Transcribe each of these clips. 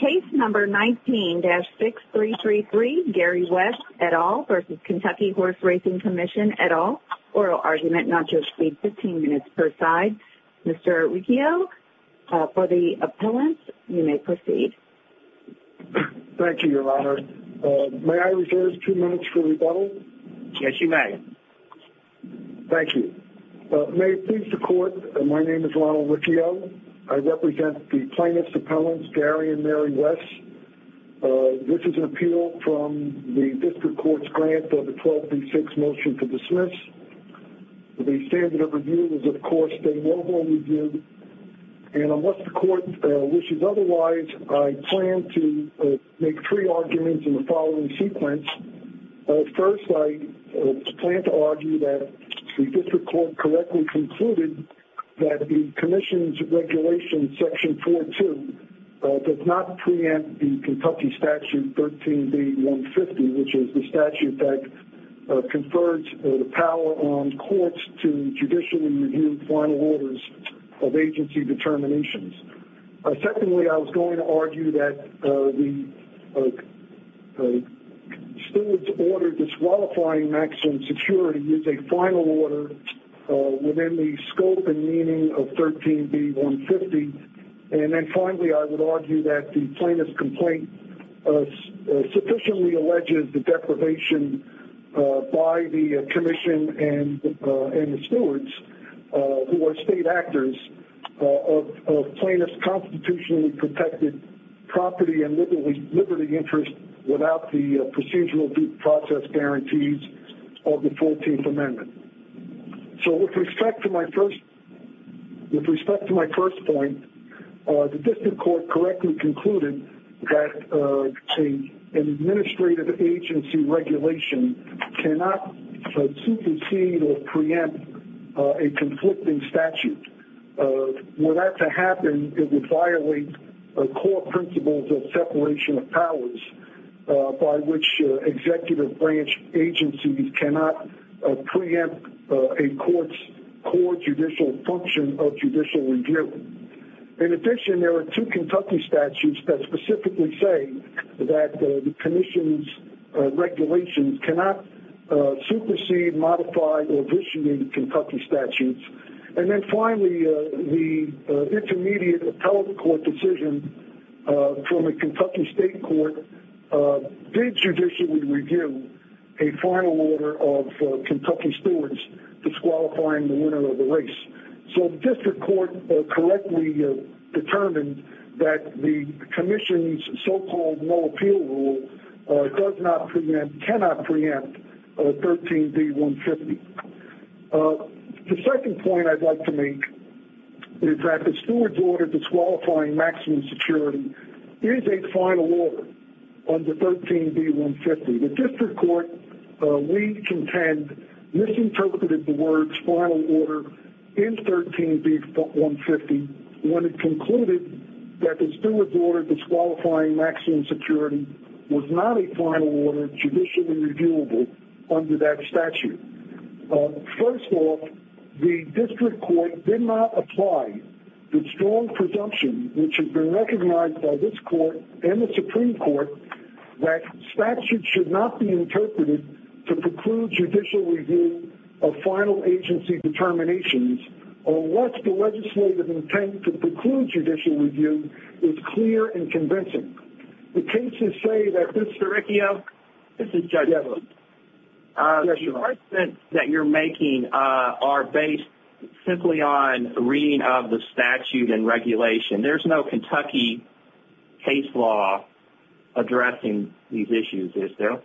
Case number 19-6333, Gary West, et al. v. KY Horse Racing Commission, et al. Oral argument not to exceed 15 minutes per side. Mr. Riccio, for the appellant, you may proceed. Thank you, Your Honor. May I reserve two minutes for rebuttal? Yes, you may. Thank you. May it please the Court, my name is Ronald Riccio. I represent the plaintiffs' appellants, Gary and Mary West. This is an appeal from the District Court's grant of the 12 v. 6 motion to dismiss. The standard of review is, of course, a mobile review. And unless the Court wishes otherwise, I plan to make three arguments in the following sequence. First, I plan to argue that the District Court correctly concluded that the Commission's Regulation Section 4-2 does not preempt the Kentucky Statute 13 v. 150, which is the statute that confers the power on courts to judicially review final orders of agency determinations. Secondly, I was going to argue that the steward's order disqualifying maximum security is a final order within the scope and meaning of 13 v. 150. And then finally, I would argue that the plaintiff's complaint sufficiently alleges the deprivation by the Commission and the stewards, who are state actors, of plaintiff's constitutionally protected property and liberty interest without the procedural due process guarantees of the 14th Amendment. So with respect to my first point, the District Court correctly concluded that an administrative agency regulation cannot supersede or preempt a conflicting statute. Were that to happen, it would violate court principles of separation of powers by which executive branch agencies cannot preempt a court's core judicial function of judicial review. In addition, there are two Kentucky statutes that specifically say that the Commission's regulations cannot supersede, modify, or vitiate Kentucky statutes. And then finally, the intermediate appellate court decision from a Kentucky state court did judicially review a final order of Kentucky stewards disqualifying the winner of the race. So the District Court correctly determined that the Commission's so-called no appeal rule does not preempt, cannot preempt 13 v. 150. The second point I'd like to make is that the stewards order disqualifying maximum security is a final order under 13 v. 150. The District Court, we contend, misinterpreted the words final order in 13 v. 150 when it concluded that the stewards order disqualifying maximum security was not a final order judicially reviewable under that statute. First off, the District Court did not apply the strong presumption, which has been recognized by this court and the Supreme Court, that statutes should not be interpreted to preclude judicial review of final agency determinations unless the legislative intent to preclude judicial review is clear and convincing. The cases say that this curriculum... This is Judge Evans. The arguments that you're making are based simply on reading of the statute and regulation. There's no Kentucky case law addressing these issues, is there?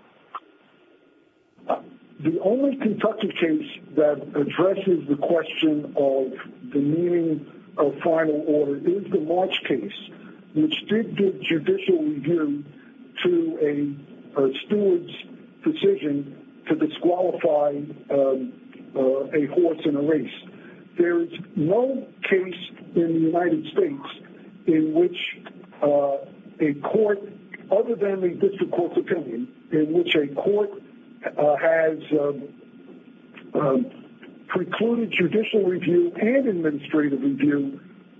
The only Kentucky case that addresses the question of the meaning of final order is the March case, which did give judicial review to a steward's decision to disqualify a horse in a race. There's no case in the United States in which a court, other than the District Court's opinion, in which a court has precluded judicial review and administrative review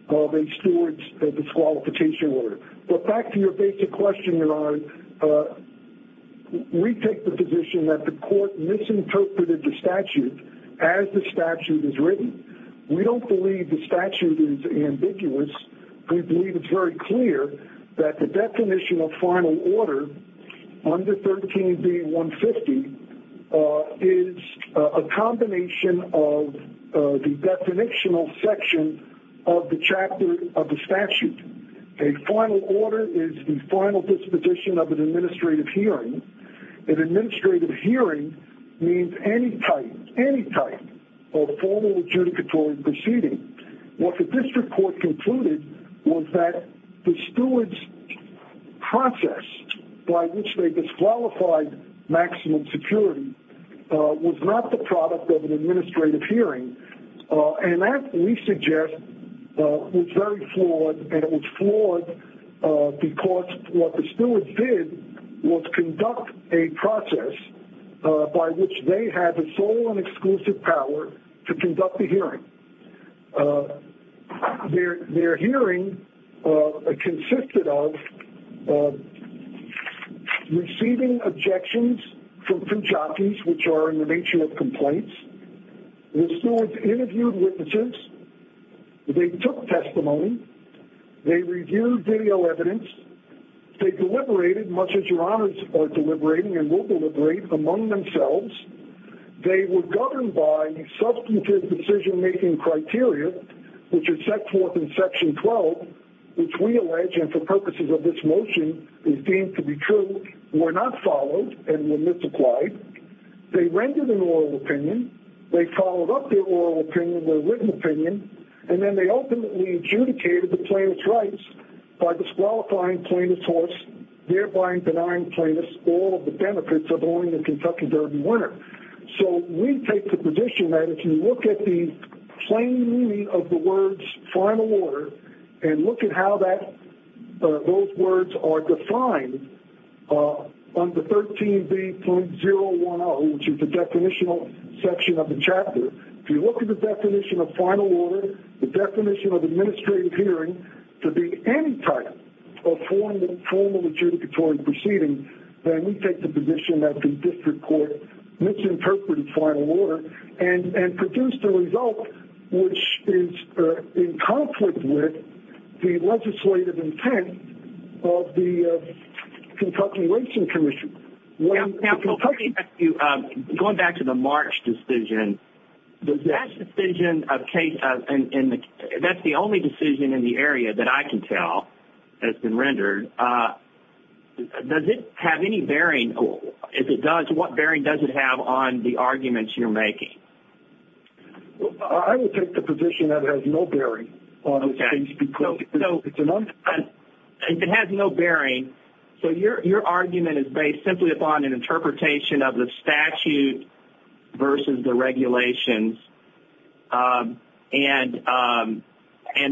of a steward's disqualification order. But back to your basic question, Your Honor, we take the position that the court misinterpreted the statute as the statute is written. We don't believe the statute is ambiguous. We believe it's very clear that the definition of final order under 13b-150 is a combination of the definitional section of the chapter of the statute. A final order is the final disposition of an administrative hearing. An administrative hearing means any type, any type of formal adjudicatory proceeding. What the District Court concluded was that the steward's process by which they disqualified maximum security was not the product of an administrative hearing. And that, we suggest, was very flawed, and it was flawed because what the stewards did was conduct a process by which they had the sole and exclusive power to conduct the hearing. Their hearing consisted of receiving objections from Punjabis, which are in the nature of complaints. The stewards interviewed witnesses. They took testimony. They reviewed video evidence. They deliberated, much as Your Honors are deliberating and will deliberate, among themselves. They were governed by substantive decision-making criteria, which are set forth in Section 12, which we allege, and for purposes of this motion, is deemed to be true, were not followed and were misapplied. They rendered an oral opinion. They followed up their oral opinion, their written opinion, and then they openly adjudicated the plaintiff's rights by disqualifying plaintiff's horse, thereby denying plaintiffs all of the benefits of owning a Kentucky Derby winner. So we take the position that if you look at the plain meaning of the words, final order, and look at how those words are defined on the 13B.010, which is the definitional section of the chapter, if you look at the definition of final order, the definition of administrative hearing, to be any type of formal adjudicatory proceeding, then we take the position that the district court misinterpreted final order and produced a result which is in conflict with the legislative intent of the Kentucky Racing Commission. Now, going back to the March decision, that's the only decision in the area that I can tell that's been rendered. Does it have any bearing? If it does, what bearing does it have on the arguments you're making? I would take the position that it has no bearing on those things. It has no bearing. So your argument is based simply upon an interpretation of the statute versus the regulations, and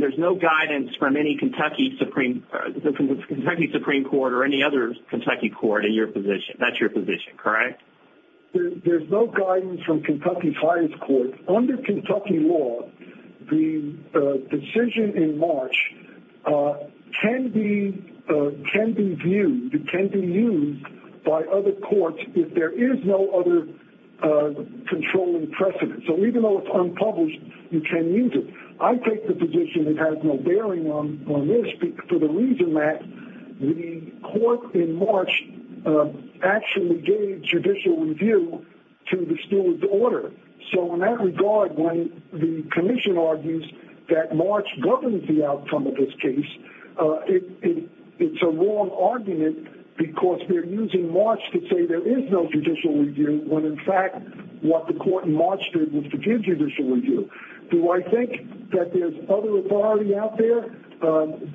there's no guidance from any Kentucky Supreme Court or any other Kentucky court in your position. That's your position, correct? There's no guidance from Kentucky's highest court. Under Kentucky law, the decision in March can be viewed, it can be used by other courts if there is no other controlling precedent. So even though it's unpublished, you can use it. I take the position it has no bearing on this for the reason that the court in March actually gave judicial review to the school's order. So in that regard, when the commission argues that March governs the outcome of this case, it's a wrong argument because they're using March to say there is no judicial review when in fact what the court in March did was to give judicial review. Do I think that there's other authority out there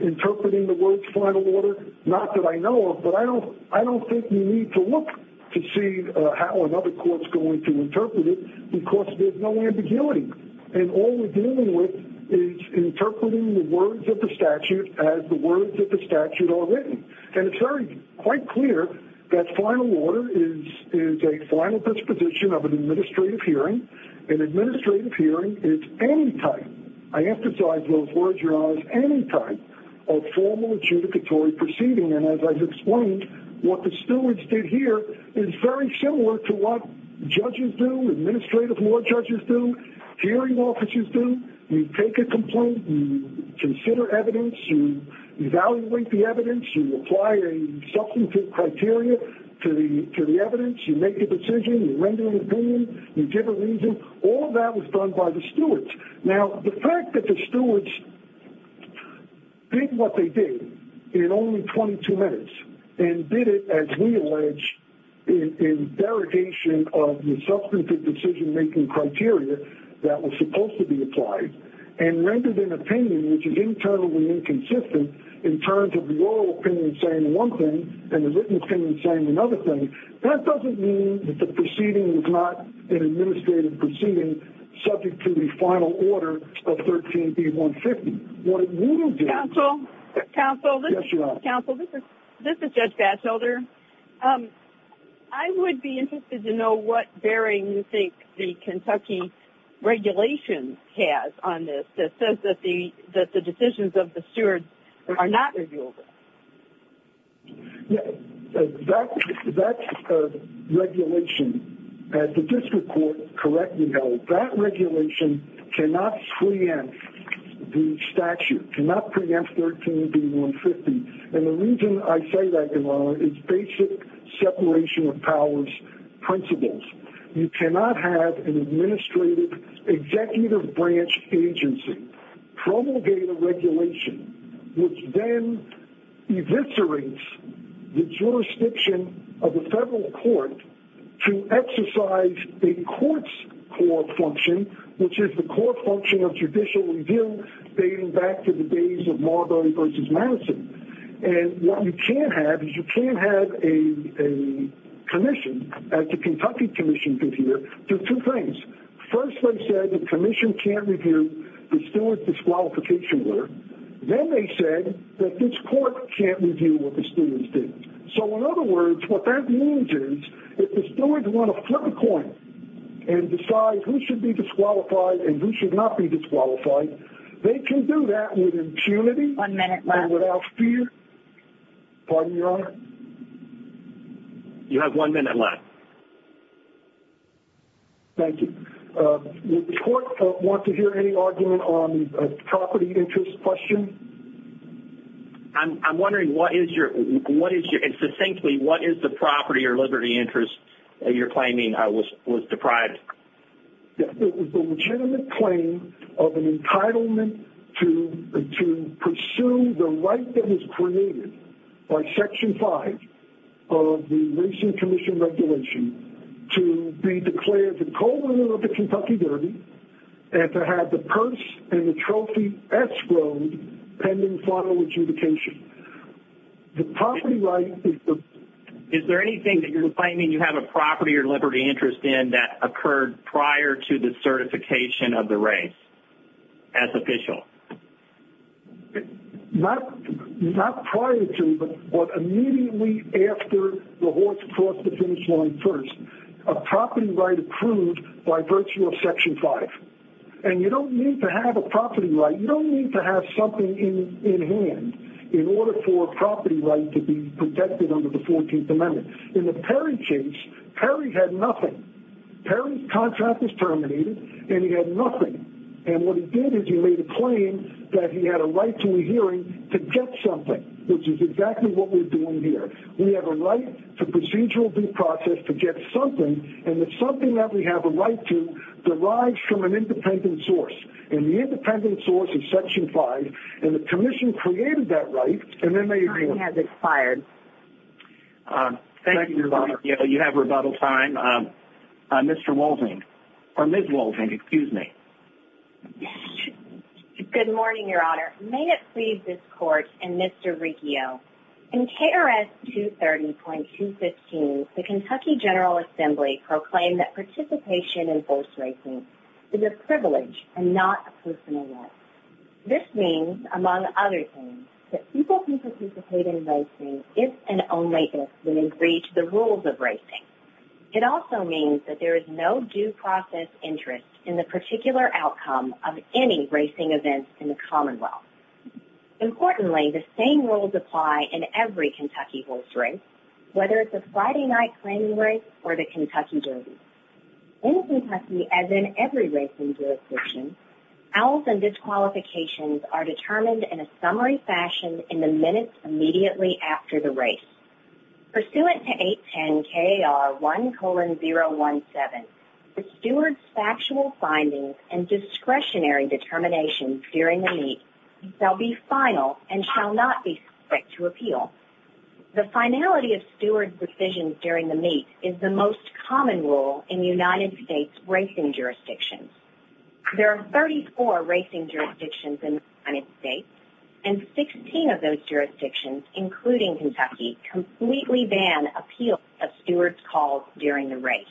interpreting the words final order? Not that I know of, but I don't think we need to look to see how another court is going to interpret it because there's no ambiguity. And all we're dealing with is interpreting the words of the statute as the words of the statute are written. And it's very quite clear that final order is a final disposition of an administrative hearing. An administrative hearing is any type, I emphasize those words, your honors, any type of formal adjudicatory proceeding. And as I've explained, what the stewards did here is very similar to what judges do, administrative law judges do, hearing officers do. You take a complaint, you consider evidence, you evaluate the evidence, you apply a substantive criteria to the evidence, you make a decision, you render an opinion, you give a reason. All of that was done by the stewards. Now, the fact that the stewards did what they did in only 22 minutes and did it as we allege in derogation of the substantive decision-making criteria that was supposed to be applied and rendered an opinion which is internally inconsistent in terms of the oral opinion saying one thing and the written opinion saying another thing, that doesn't mean that the proceeding was not an administrative proceeding subject to the final order of 13B150. What it would have been... Counsel? Yes, your honor. Counsel, this is Judge Batchelder. I would be interested to know what bearing you think the Kentucky regulation has on this that says that the decisions of the stewards are not reviewable. That regulation, as the district court correctly held, that regulation cannot preempt the statute, cannot preempt 13B150, and the reason I say that, your honor, is basic separation of powers principles. You cannot have an administrative executive branch agency promulgate a regulation which then eviscerates the jurisdiction of the federal court to exercise a court's core function, which is the core function of judicial review dating back to the days of Marbury v. Madison, and what you can't have is you can't have a commission, as the Kentucky commission did here, do two things. First, they said the commission can't review the steward's disqualification order. Then they said that this court can't review what the stewards did. So, in other words, what that means is if the stewards want to flip a coin and decide who should be disqualified and who should not be disqualified, they can do that with impunity... One minute left. ...and without fear. Pardon me, your honor? You have one minute left. Thank you. Would the court want to hear any argument on a property interest question? I'm wondering what is your... and succinctly, what is the property or liberty interest you're claiming was deprived? It was a legitimate claim of an entitlement to pursue the right that was created by Section 5 of the Racing Commission Regulation to be declared the co-owner of the Kentucky Derby and to have the purse and the trophy escrowed pending final adjudication. The property right is the... Is there anything that you're claiming you have a property or liberty interest in that occurred prior to the certification of the race as official? Not prior to, but immediately after the horse crossed the finish line first. A property right approved by virtue of Section 5. And you don't need to have a property right. You don't need to have something in hand in order for a property right to be protected under the 14th Amendment. In the Perry case, Perry had nothing. Perry's contract was terminated, and he had nothing. And what he did is he made a claim that he had a right to a hearing to get something, which is exactly what we're doing here. We have a right to procedural due process to get something, and the something that we have a right to derives from an independent source. And the independent source is Section 5, and the commission created that right, and then they... Your time has expired. Thank you, Your Honor. You have rebuttal time. Mr. Waldron, or Ms. Waldron, excuse me. Good morning, Your Honor. May it please this Court and Mr. Riccio, in KRS 230.215, the Kentucky General Assembly proclaimed that participation in horse racing is a privilege and not a personal right. This means, among other things, that people who participate in racing, if and only if they agree to the rules of racing. It also means that there is no due process interest in the particular outcome of any racing events in the Commonwealth. Importantly, the same rules apply in every Kentucky horse race, whether it's a Friday night claiming race or the Kentucky Derby. In Kentucky, as in every racing jurisdiction, owls and disqualifications are determined in a summary fashion in the minutes immediately after the race. Pursuant to 810KR1,017, the steward's factual findings and discretionary determinations during the meet shall be final and shall not be subject to appeal. The finality of steward's decisions during the meet is the most common rule in United States racing jurisdictions. There are 34 racing jurisdictions in the United States, and 16 of those jurisdictions, including Kentucky, completely ban appeals of steward's calls during the race.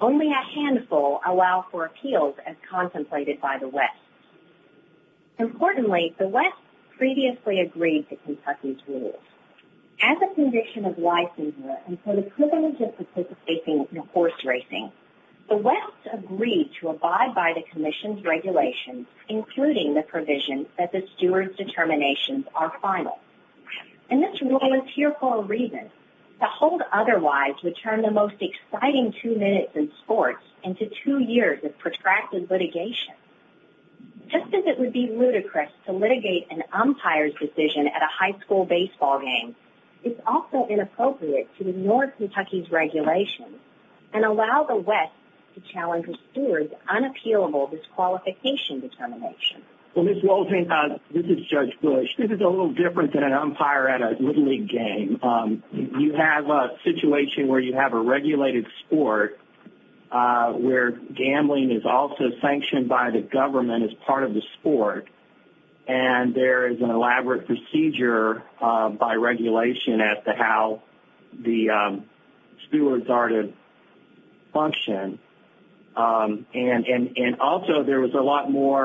Only a handful allow for appeals as contemplated by the West. Importantly, the West previously agreed to Kentucky's rules. As a conviction of licensure and for the privilege of participating in horse racing, the West agreed to abide by the Commission's regulations, including the provision that the steward's determinations are final. And this rule is here for a reason. To hold otherwise would turn the most exciting two minutes in sports into two years of protracted litigation. Just as it would be ludicrous to litigate an umpire's decision at a high school baseball game, it's also inappropriate to ignore Kentucky's regulations and allow the West to challenge a steward's unappealable disqualification determination. Well, Ms. Walton, this is Judge Bush. This is a little different than an umpire at a Little League game. You have a situation where you have a regulated sport where gambling is also sanctioned by the government as part of the sport, and there is an elaborate procedure by regulation as to how the stewards are to function. And also there was a lot more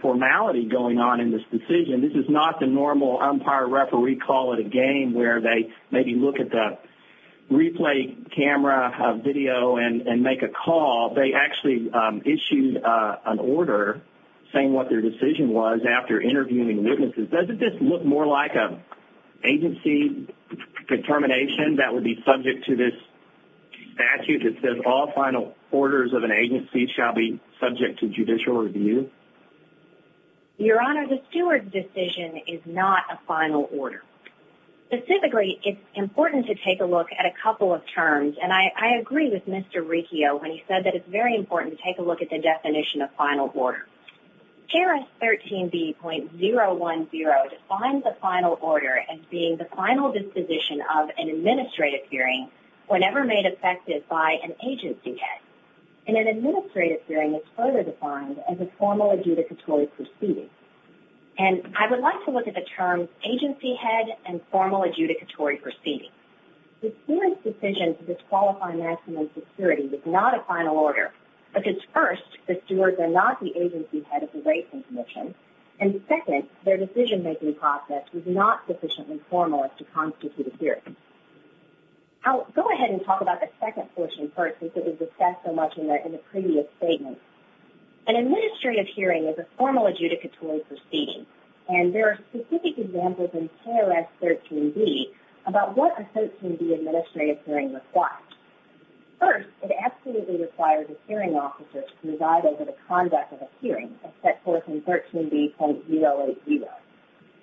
formality going on in this decision. This is not the normal umpire-referee call at a game where they maybe look at the replay camera video and make a call. They actually issued an order saying what their decision was after interviewing witnesses. Doesn't this look more like an agency determination that would be subject to this statute that says all final orders of an agency shall be subject to judicial review? Your Honor, the steward's decision is not a final order. Specifically, it's important to take a look at a couple of terms, and I agree with Mr. Riccio when he said that it's very important to take a look at the definition of final order. CARES 13B.010 defines a final order as being the final disposition of an administrative hearing whenever made effective by an agency head. And an administrative hearing is further defined as a formal adjudicatory proceeding. And I would like to look at the terms agency head and formal adjudicatory proceeding. The steward's decision to disqualify maximum security is not a final order because, first, the stewards are not the agency head of the rating commission, and, second, their decision-making process is not sufficiently formal to constitute a hearing. I'll go ahead and talk about the second portion first since it was discussed so much in the previous statement. An administrative hearing is a formal adjudicatory proceeding, and there are specific examples in CARES 13B about what a 13B administrative hearing requires. First, it absolutely requires a hearing officer to preside over the conduct of a hearing as set forth in 13B.080.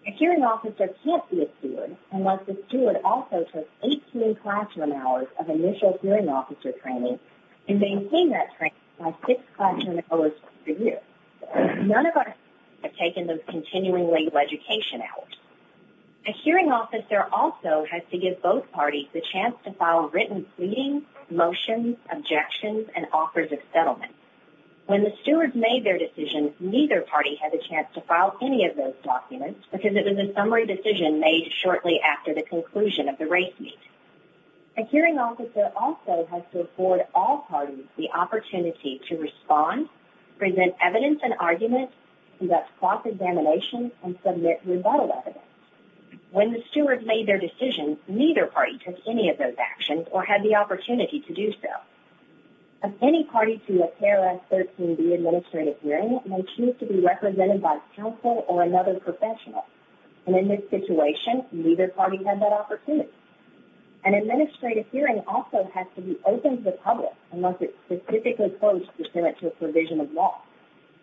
A hearing officer can't be a steward unless the steward also took 18 classroom hours of initial hearing officer training and maintained that training by six classroom hours per year. None of us have taken those continuing legal education hours. A hearing officer also has to give both parties the chance to file written pleadings, motions, objections, and offers of settlement. When the stewards made their decisions, neither party had the chance to file any of those documents because it was a summary decision made shortly after the conclusion of the race meet. A hearing officer also has to afford all parties the opportunity to respond, present evidence and arguments, conduct cross-examination, and submit rebuttal evidence. When the stewards made their decisions, neither party took any of those actions or had the opportunity to do so. Any party to a CARES 13B administrative hearing may choose to be represented by counsel or another professional, and in this situation, neither party had that opportunity. An administrative hearing also has to be open to the public unless it's specifically closed to submit to a provision of law,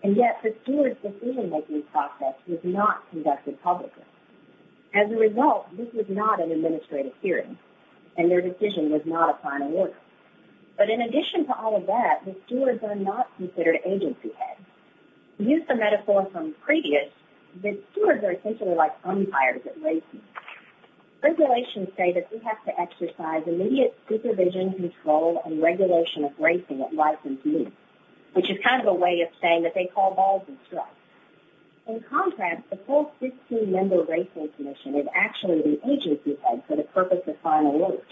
and yet the stewards' decision-making process was not conducted publicly. As a result, this was not an administrative hearing, and their decision was not a final order. But in addition to all of that, the stewards are not considered agency heads. To use the metaphor from previous, the stewards are essentially like umpires at racing. Regulations say that we have to exercise immediate supervision, control, and regulation of racing at license meets, which is kind of a way of saying that they call balls and strikes. In contrast, the full 16-member racing commission is actually the agency heads for the purpose of final orders.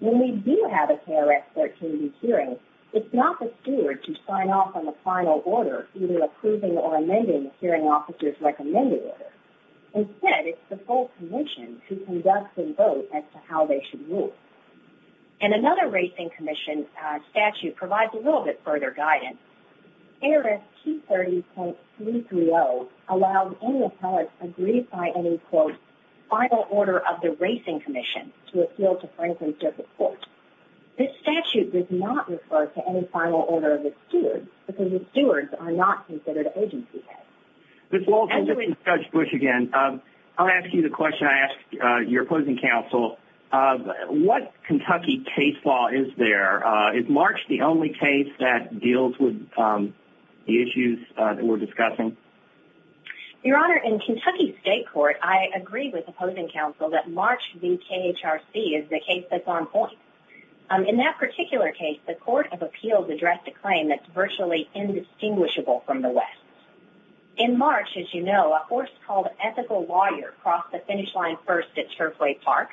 When we do have a CARES 13B hearing, it's not the steward to sign off on the final order, either approving or amending the hearing officer's recommended order. Instead, it's the full commission who conducts the vote as to how they should move. And another racing commission statute provides a little bit further guidance. ARS 230.330 allows any appellate to agree by any, quote, final order of the racing commission to appeal to frankness of the court. This statute does not refer to any final order of the stewards, because the stewards are not considered agency heads. Ms. Walton, this is Judge Bush again. I'll ask you the question I ask your opposing counsel. What Kentucky case law is there? Is March the only case that deals with the issues that we're discussing? Your Honor, in Kentucky state court, I agree with opposing counsel that March v. KHRC is the case that's on point. In that particular case, the court of appeals addressed a claim that's virtually indistinguishable from the West. In March, as you know, a horse called Ethical Warrior crossed the finish line first at Turfway Park.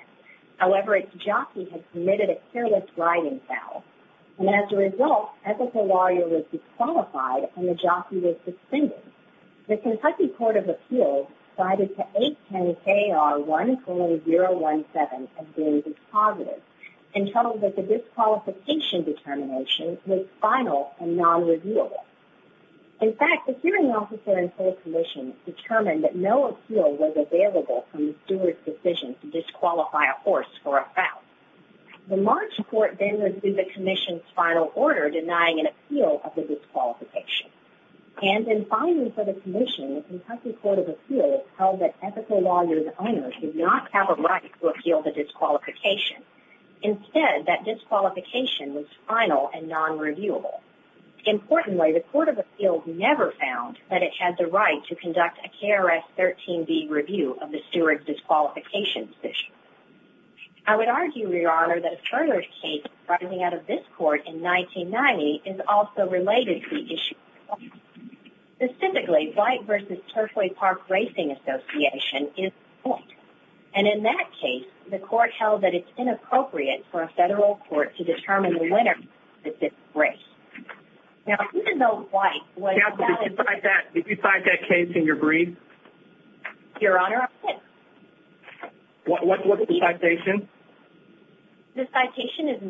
However, its jockey had committed a careless riding foul. And as a result, Ethical Warrior was disqualified and the jockey was suspended. The Kentucky court of appeals cited the 810KR14017 as being dispositive and told that the disqualification determination was final and nonreviewable. In fact, the hearing officer in full commission determined that no appeal was available from the stewards' decision to disqualify a horse for a foul. The March court then received the commission's final order denying an appeal of the disqualification. And in filing for the commission, the Kentucky court of appeals held that Ethical Warrior's owner did not have a right to appeal the disqualification. Instead, that disqualification was final and nonreviewable. Importantly, the court of appeals never found that it had the right to conduct a KRS-13B review of the stewards' disqualification decision. I would argue, Your Honor, that a further case arising out of this court in 1990 is also related to the issue. Specifically, White v. Turfway Park Racing Association is the point. And in that case, the court held that it's inappropriate for a federal court to determine the winner of this race. Counsel, did you cite that case in your brief? Your Honor, I did. What's the citation? The citation is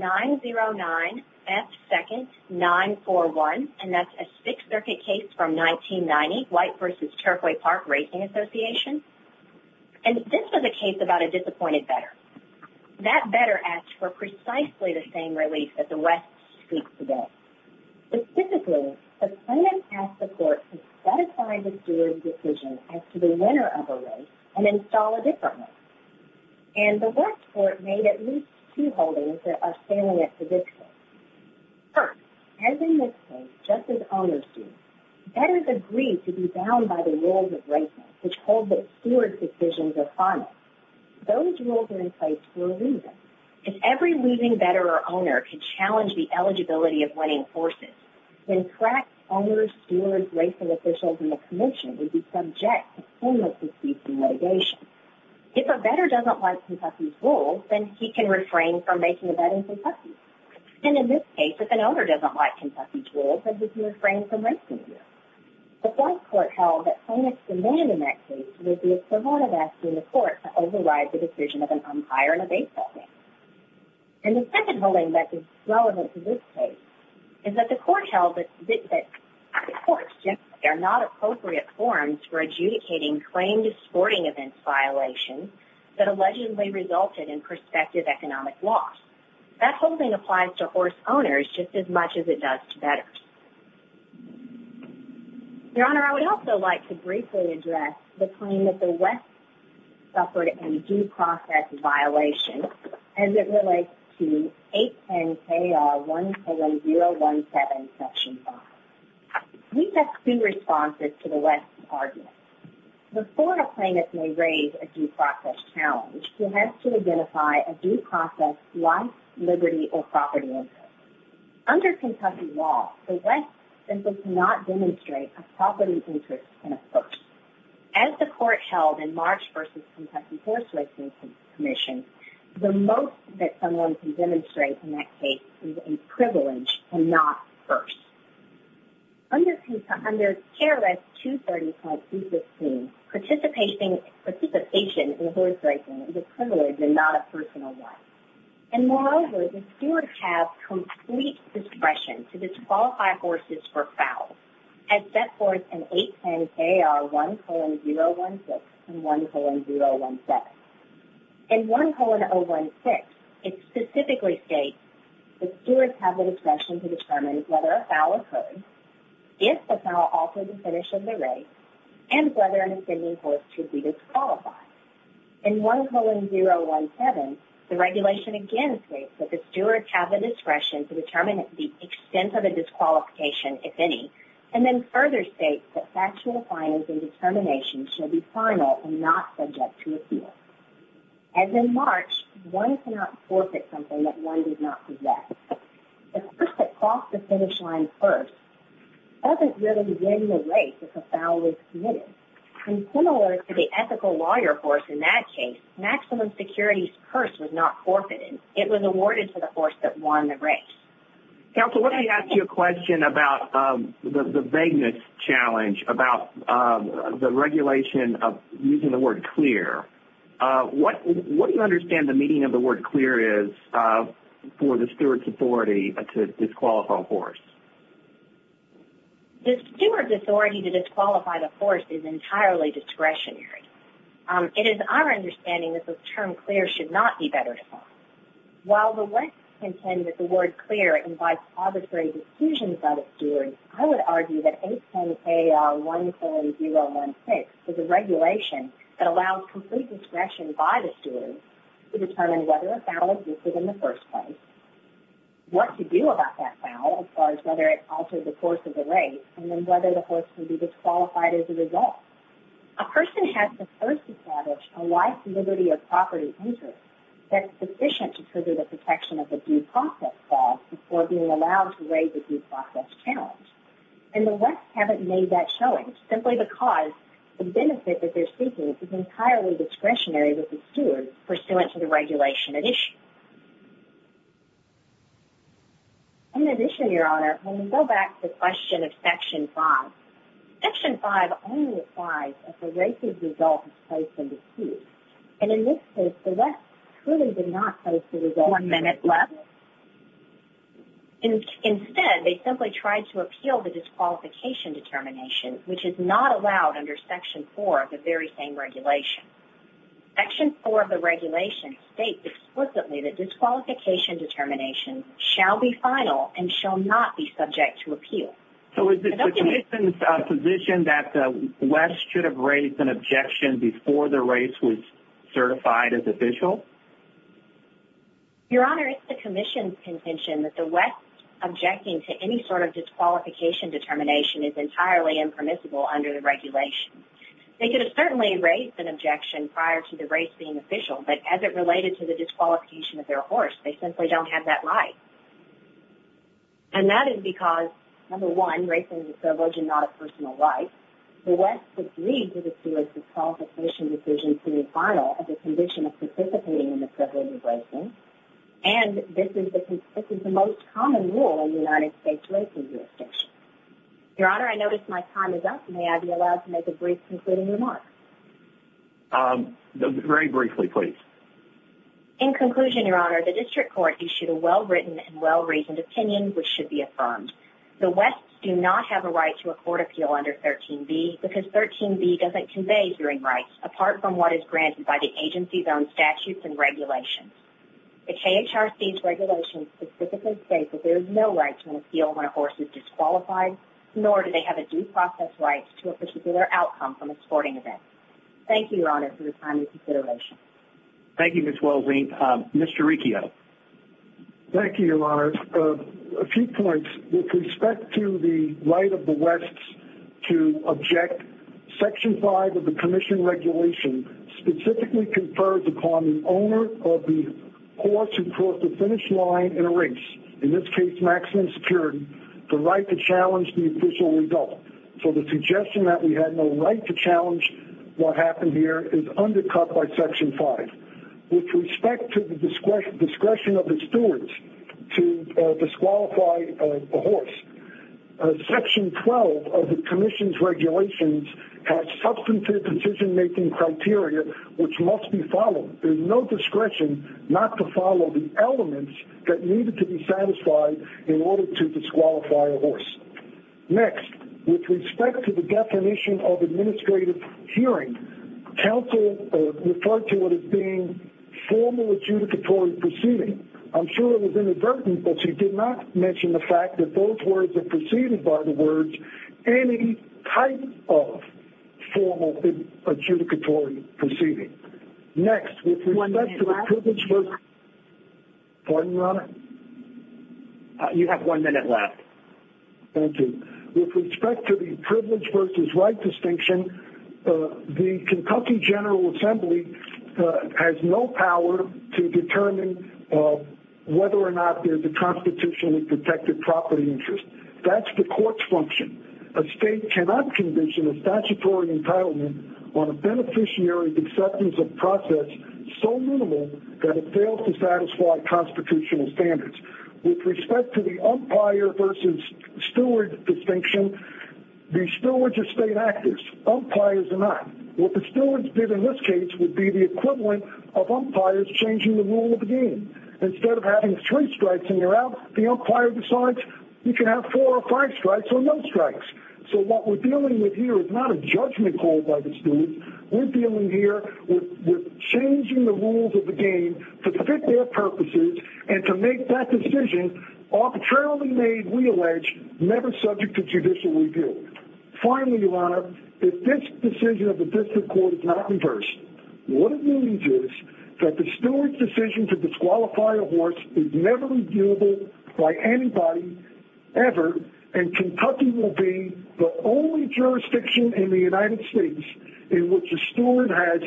909F2941, and that's a Sixth Circuit case from 1990, White v. Turfway Park Racing Association. And this was a case about a disappointed veteran. That veteran asked for precisely the same relief that the West seeks today. Specifically, the plaintiff asked the court to satisfy the steward's decision as to the winner of a race and install a different race. And the West court made at least two holdings that are salient to this case. First, as in this case, just as owners do, veterans agree to be bound by the rules of racing, which hold that stewards' decisions are final. Those rules are in place for a reason. If every leaving veteran or owner could challenge the eligibility of winning horses, then cracked owners, stewards, racing officials, and the commission would be subject to similar disputes and litigation. If a veteran doesn't like Kentucky's rules, then he can refrain from making a bet in Kentucky. And in this case, if an owner doesn't like Kentucky's rules, then he can refrain from racing there. The fourth court held that plaintiff's demand in that case would be as provocative as asking the court to override the decision of an umpire in a baseball game. And the second holding that is relevant to this case is that the court held that the courts generally are not appropriate forms for adjudicating claim to sporting events violations that allegedly resulted in prospective economic loss. That holding applies to horse owners just as much as it does to veterans. Your Honor, I would also like to briefly address the claim that the West suffered a due process violation as it relates to 810-KR-100017, Section 5. We have two responses to the West's argument. Before a plaintiff may raise a due process challenge, he has to identify a due process life, liberty, or property interest. Under Kentucky law, the West simply cannot demonstrate a property interest in a first. As the court held in March versus Kentucky Horse Racing Commission, the most that someone can demonstrate in that case is a privilege and not first. Under KRS 235-215, participation in horse racing is a privilege and not a personal right. And moreover, the stewards have complete discretion to disqualify horses for fouls as set forth in 810-KR-10016 and 10017. In 10016, it specifically states the stewards have the discretion to determine whether a foul occurred, if the foul altered the finish of the race, and whether an offending horse should be disqualified. In 10017, the regulation again states that the stewards have the discretion to determine the extent of a disqualification, if any, and then further states that factual findings and determinations should be final and not subject to appeal. As in March, one cannot forfeit something that one did not possess. The horse that crossed the finish line first doesn't really win the race if a foul was committed. And similar to the ethical lawyer horse in that case, Maximum Security's curse was not forfeited. It was awarded to the horse that won the race. Counsel, let me ask you a question about the vagueness challenge about the regulation of using the word clear. What do you understand the meaning of the word clear is for the stewards' authority to disqualify a horse? The stewards' authority to disqualify the horse is entirely discretionary. It is our understanding that the term clear should not be better defined. While the West contend that the word clear invites arbitrary decisions by the stewards, I would argue that 810AR14016 is a regulation that allows complete discretion by the stewards to determine whether a foul existed in the first place, what to do about that foul as far as whether it altered the course of the race, and then whether the horse would be disqualified as a result. A person has the first established a life, liberty, or property interest that is sufficient to trigger the protection of a due process foul before being allowed to raise a due process challenge. And the West haven't made that showing, simply because the benefit that they're seeking is entirely discretionary with the stewards pursuant to the regulation at issue. In addition, Your Honor, when we go back to the question of Section 5, Section 5 only applies if the race's result is placed under 2. And in this case, the West truly did not place the result under 2. Instead, they simply tried to appeal the disqualification determination, which is not allowed under Section 4 of the very same regulation. Section 4 of the regulation states explicitly that disqualification determinations shall be final and shall not be subject to appeal. So is it the Commission's position that the West should have raised an objection before the race was certified as official? Your Honor, it's the Commission's contention that the West objecting to any sort of disqualification determination is entirely impermissible under the regulation. They could have certainly raised an objection prior to the race being official, but as it related to the disqualification of their horse, they simply don't have that right. And that is because, number one, racing is a privilege and not a personal right. The West agreed to the stewards' disqualification decision to be final as a condition of participating in the privilege of racing. And this is the most common rule in United States racing jurisdictions. Your Honor, I notice my time is up. May I be allowed to make a brief concluding remark? Very briefly, please. In conclusion, Your Honor, the District Court issued a well-written and well-reasoned opinion which should be affirmed. The Wests do not have a right to a court appeal under 13b because 13b doesn't convey hearing rights, apart from what is granted by the agency's own statutes and regulations. The KHRC's regulations specifically state that there is no right to an appeal when a horse is disqualified, nor do they have a due process right to a particular outcome from a sporting event. Thank you, Your Honor, for your time and consideration. Thank you, Ms. Welzink. Mr. Riccio. Thank you, Your Honor. I have a few points with respect to the right of the Wests to object. Section 5 of the Commission Regulation specifically confers upon the owner of the horse who crossed the finish line in a race, in this case maximum security, the right to challenge the official result. So the suggestion that we have no right to challenge what happened here is undercut by Section 5. With respect to the discretion of the stewards to disqualify a horse, Section 12 of the Commission's regulations has substantive decision-making criteria which must be followed. There is no discretion not to follow the elements that needed to be satisfied in order to disqualify a horse. Next, with respect to the definition of administrative hearing, counsel referred to it as being formal adjudicatory proceeding. I'm sure it was inadvertent, but she did not mention the fact that those words are preceded by the words, any type of formal adjudicatory proceeding. Next, with respect to the privilege of... Pardon, Your Honor? You have one minute left. Thank you. With respect to the privilege versus right distinction, the Kentucky General Assembly has no power to determine whether or not there's a constitutionally protected property interest. That's the court's function. A state cannot condition a statutory entitlement on a beneficiary's acceptance of process so minimal that it fails to satisfy constitutional standards. With respect to the umpire versus steward distinction, the stewards are state actors. Umpires are not. What the stewards did in this case would be the equivalent of umpires changing the rule of the game. Instead of having three strikes and they're out, the umpire decides you can have four or five strikes or no strikes. So what we're dealing with here is not a judgment called by the stewards. We're dealing here with changing the rules of the game to fit their purposes and to make that decision arbitrarily made, we allege, never subject to judicial review. Finally, Your Honor, if this decision of the district court is not reversed, what it means is that the steward's decision to disqualify a horse is never reviewable by anybody, ever, and Kentucky will be the only jurisdiction in the United States in which a steward has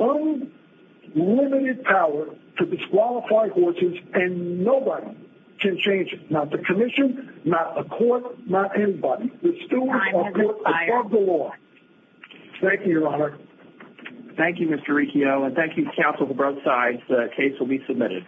unlimited power to disqualify horses and nobody can change it. Not the commission, not a court, not anybody. The stewards are above the law. Thank you, Your Honor. Thank you, Mr. Riccio, and thank you, counsel, for both sides. The case will be submitted.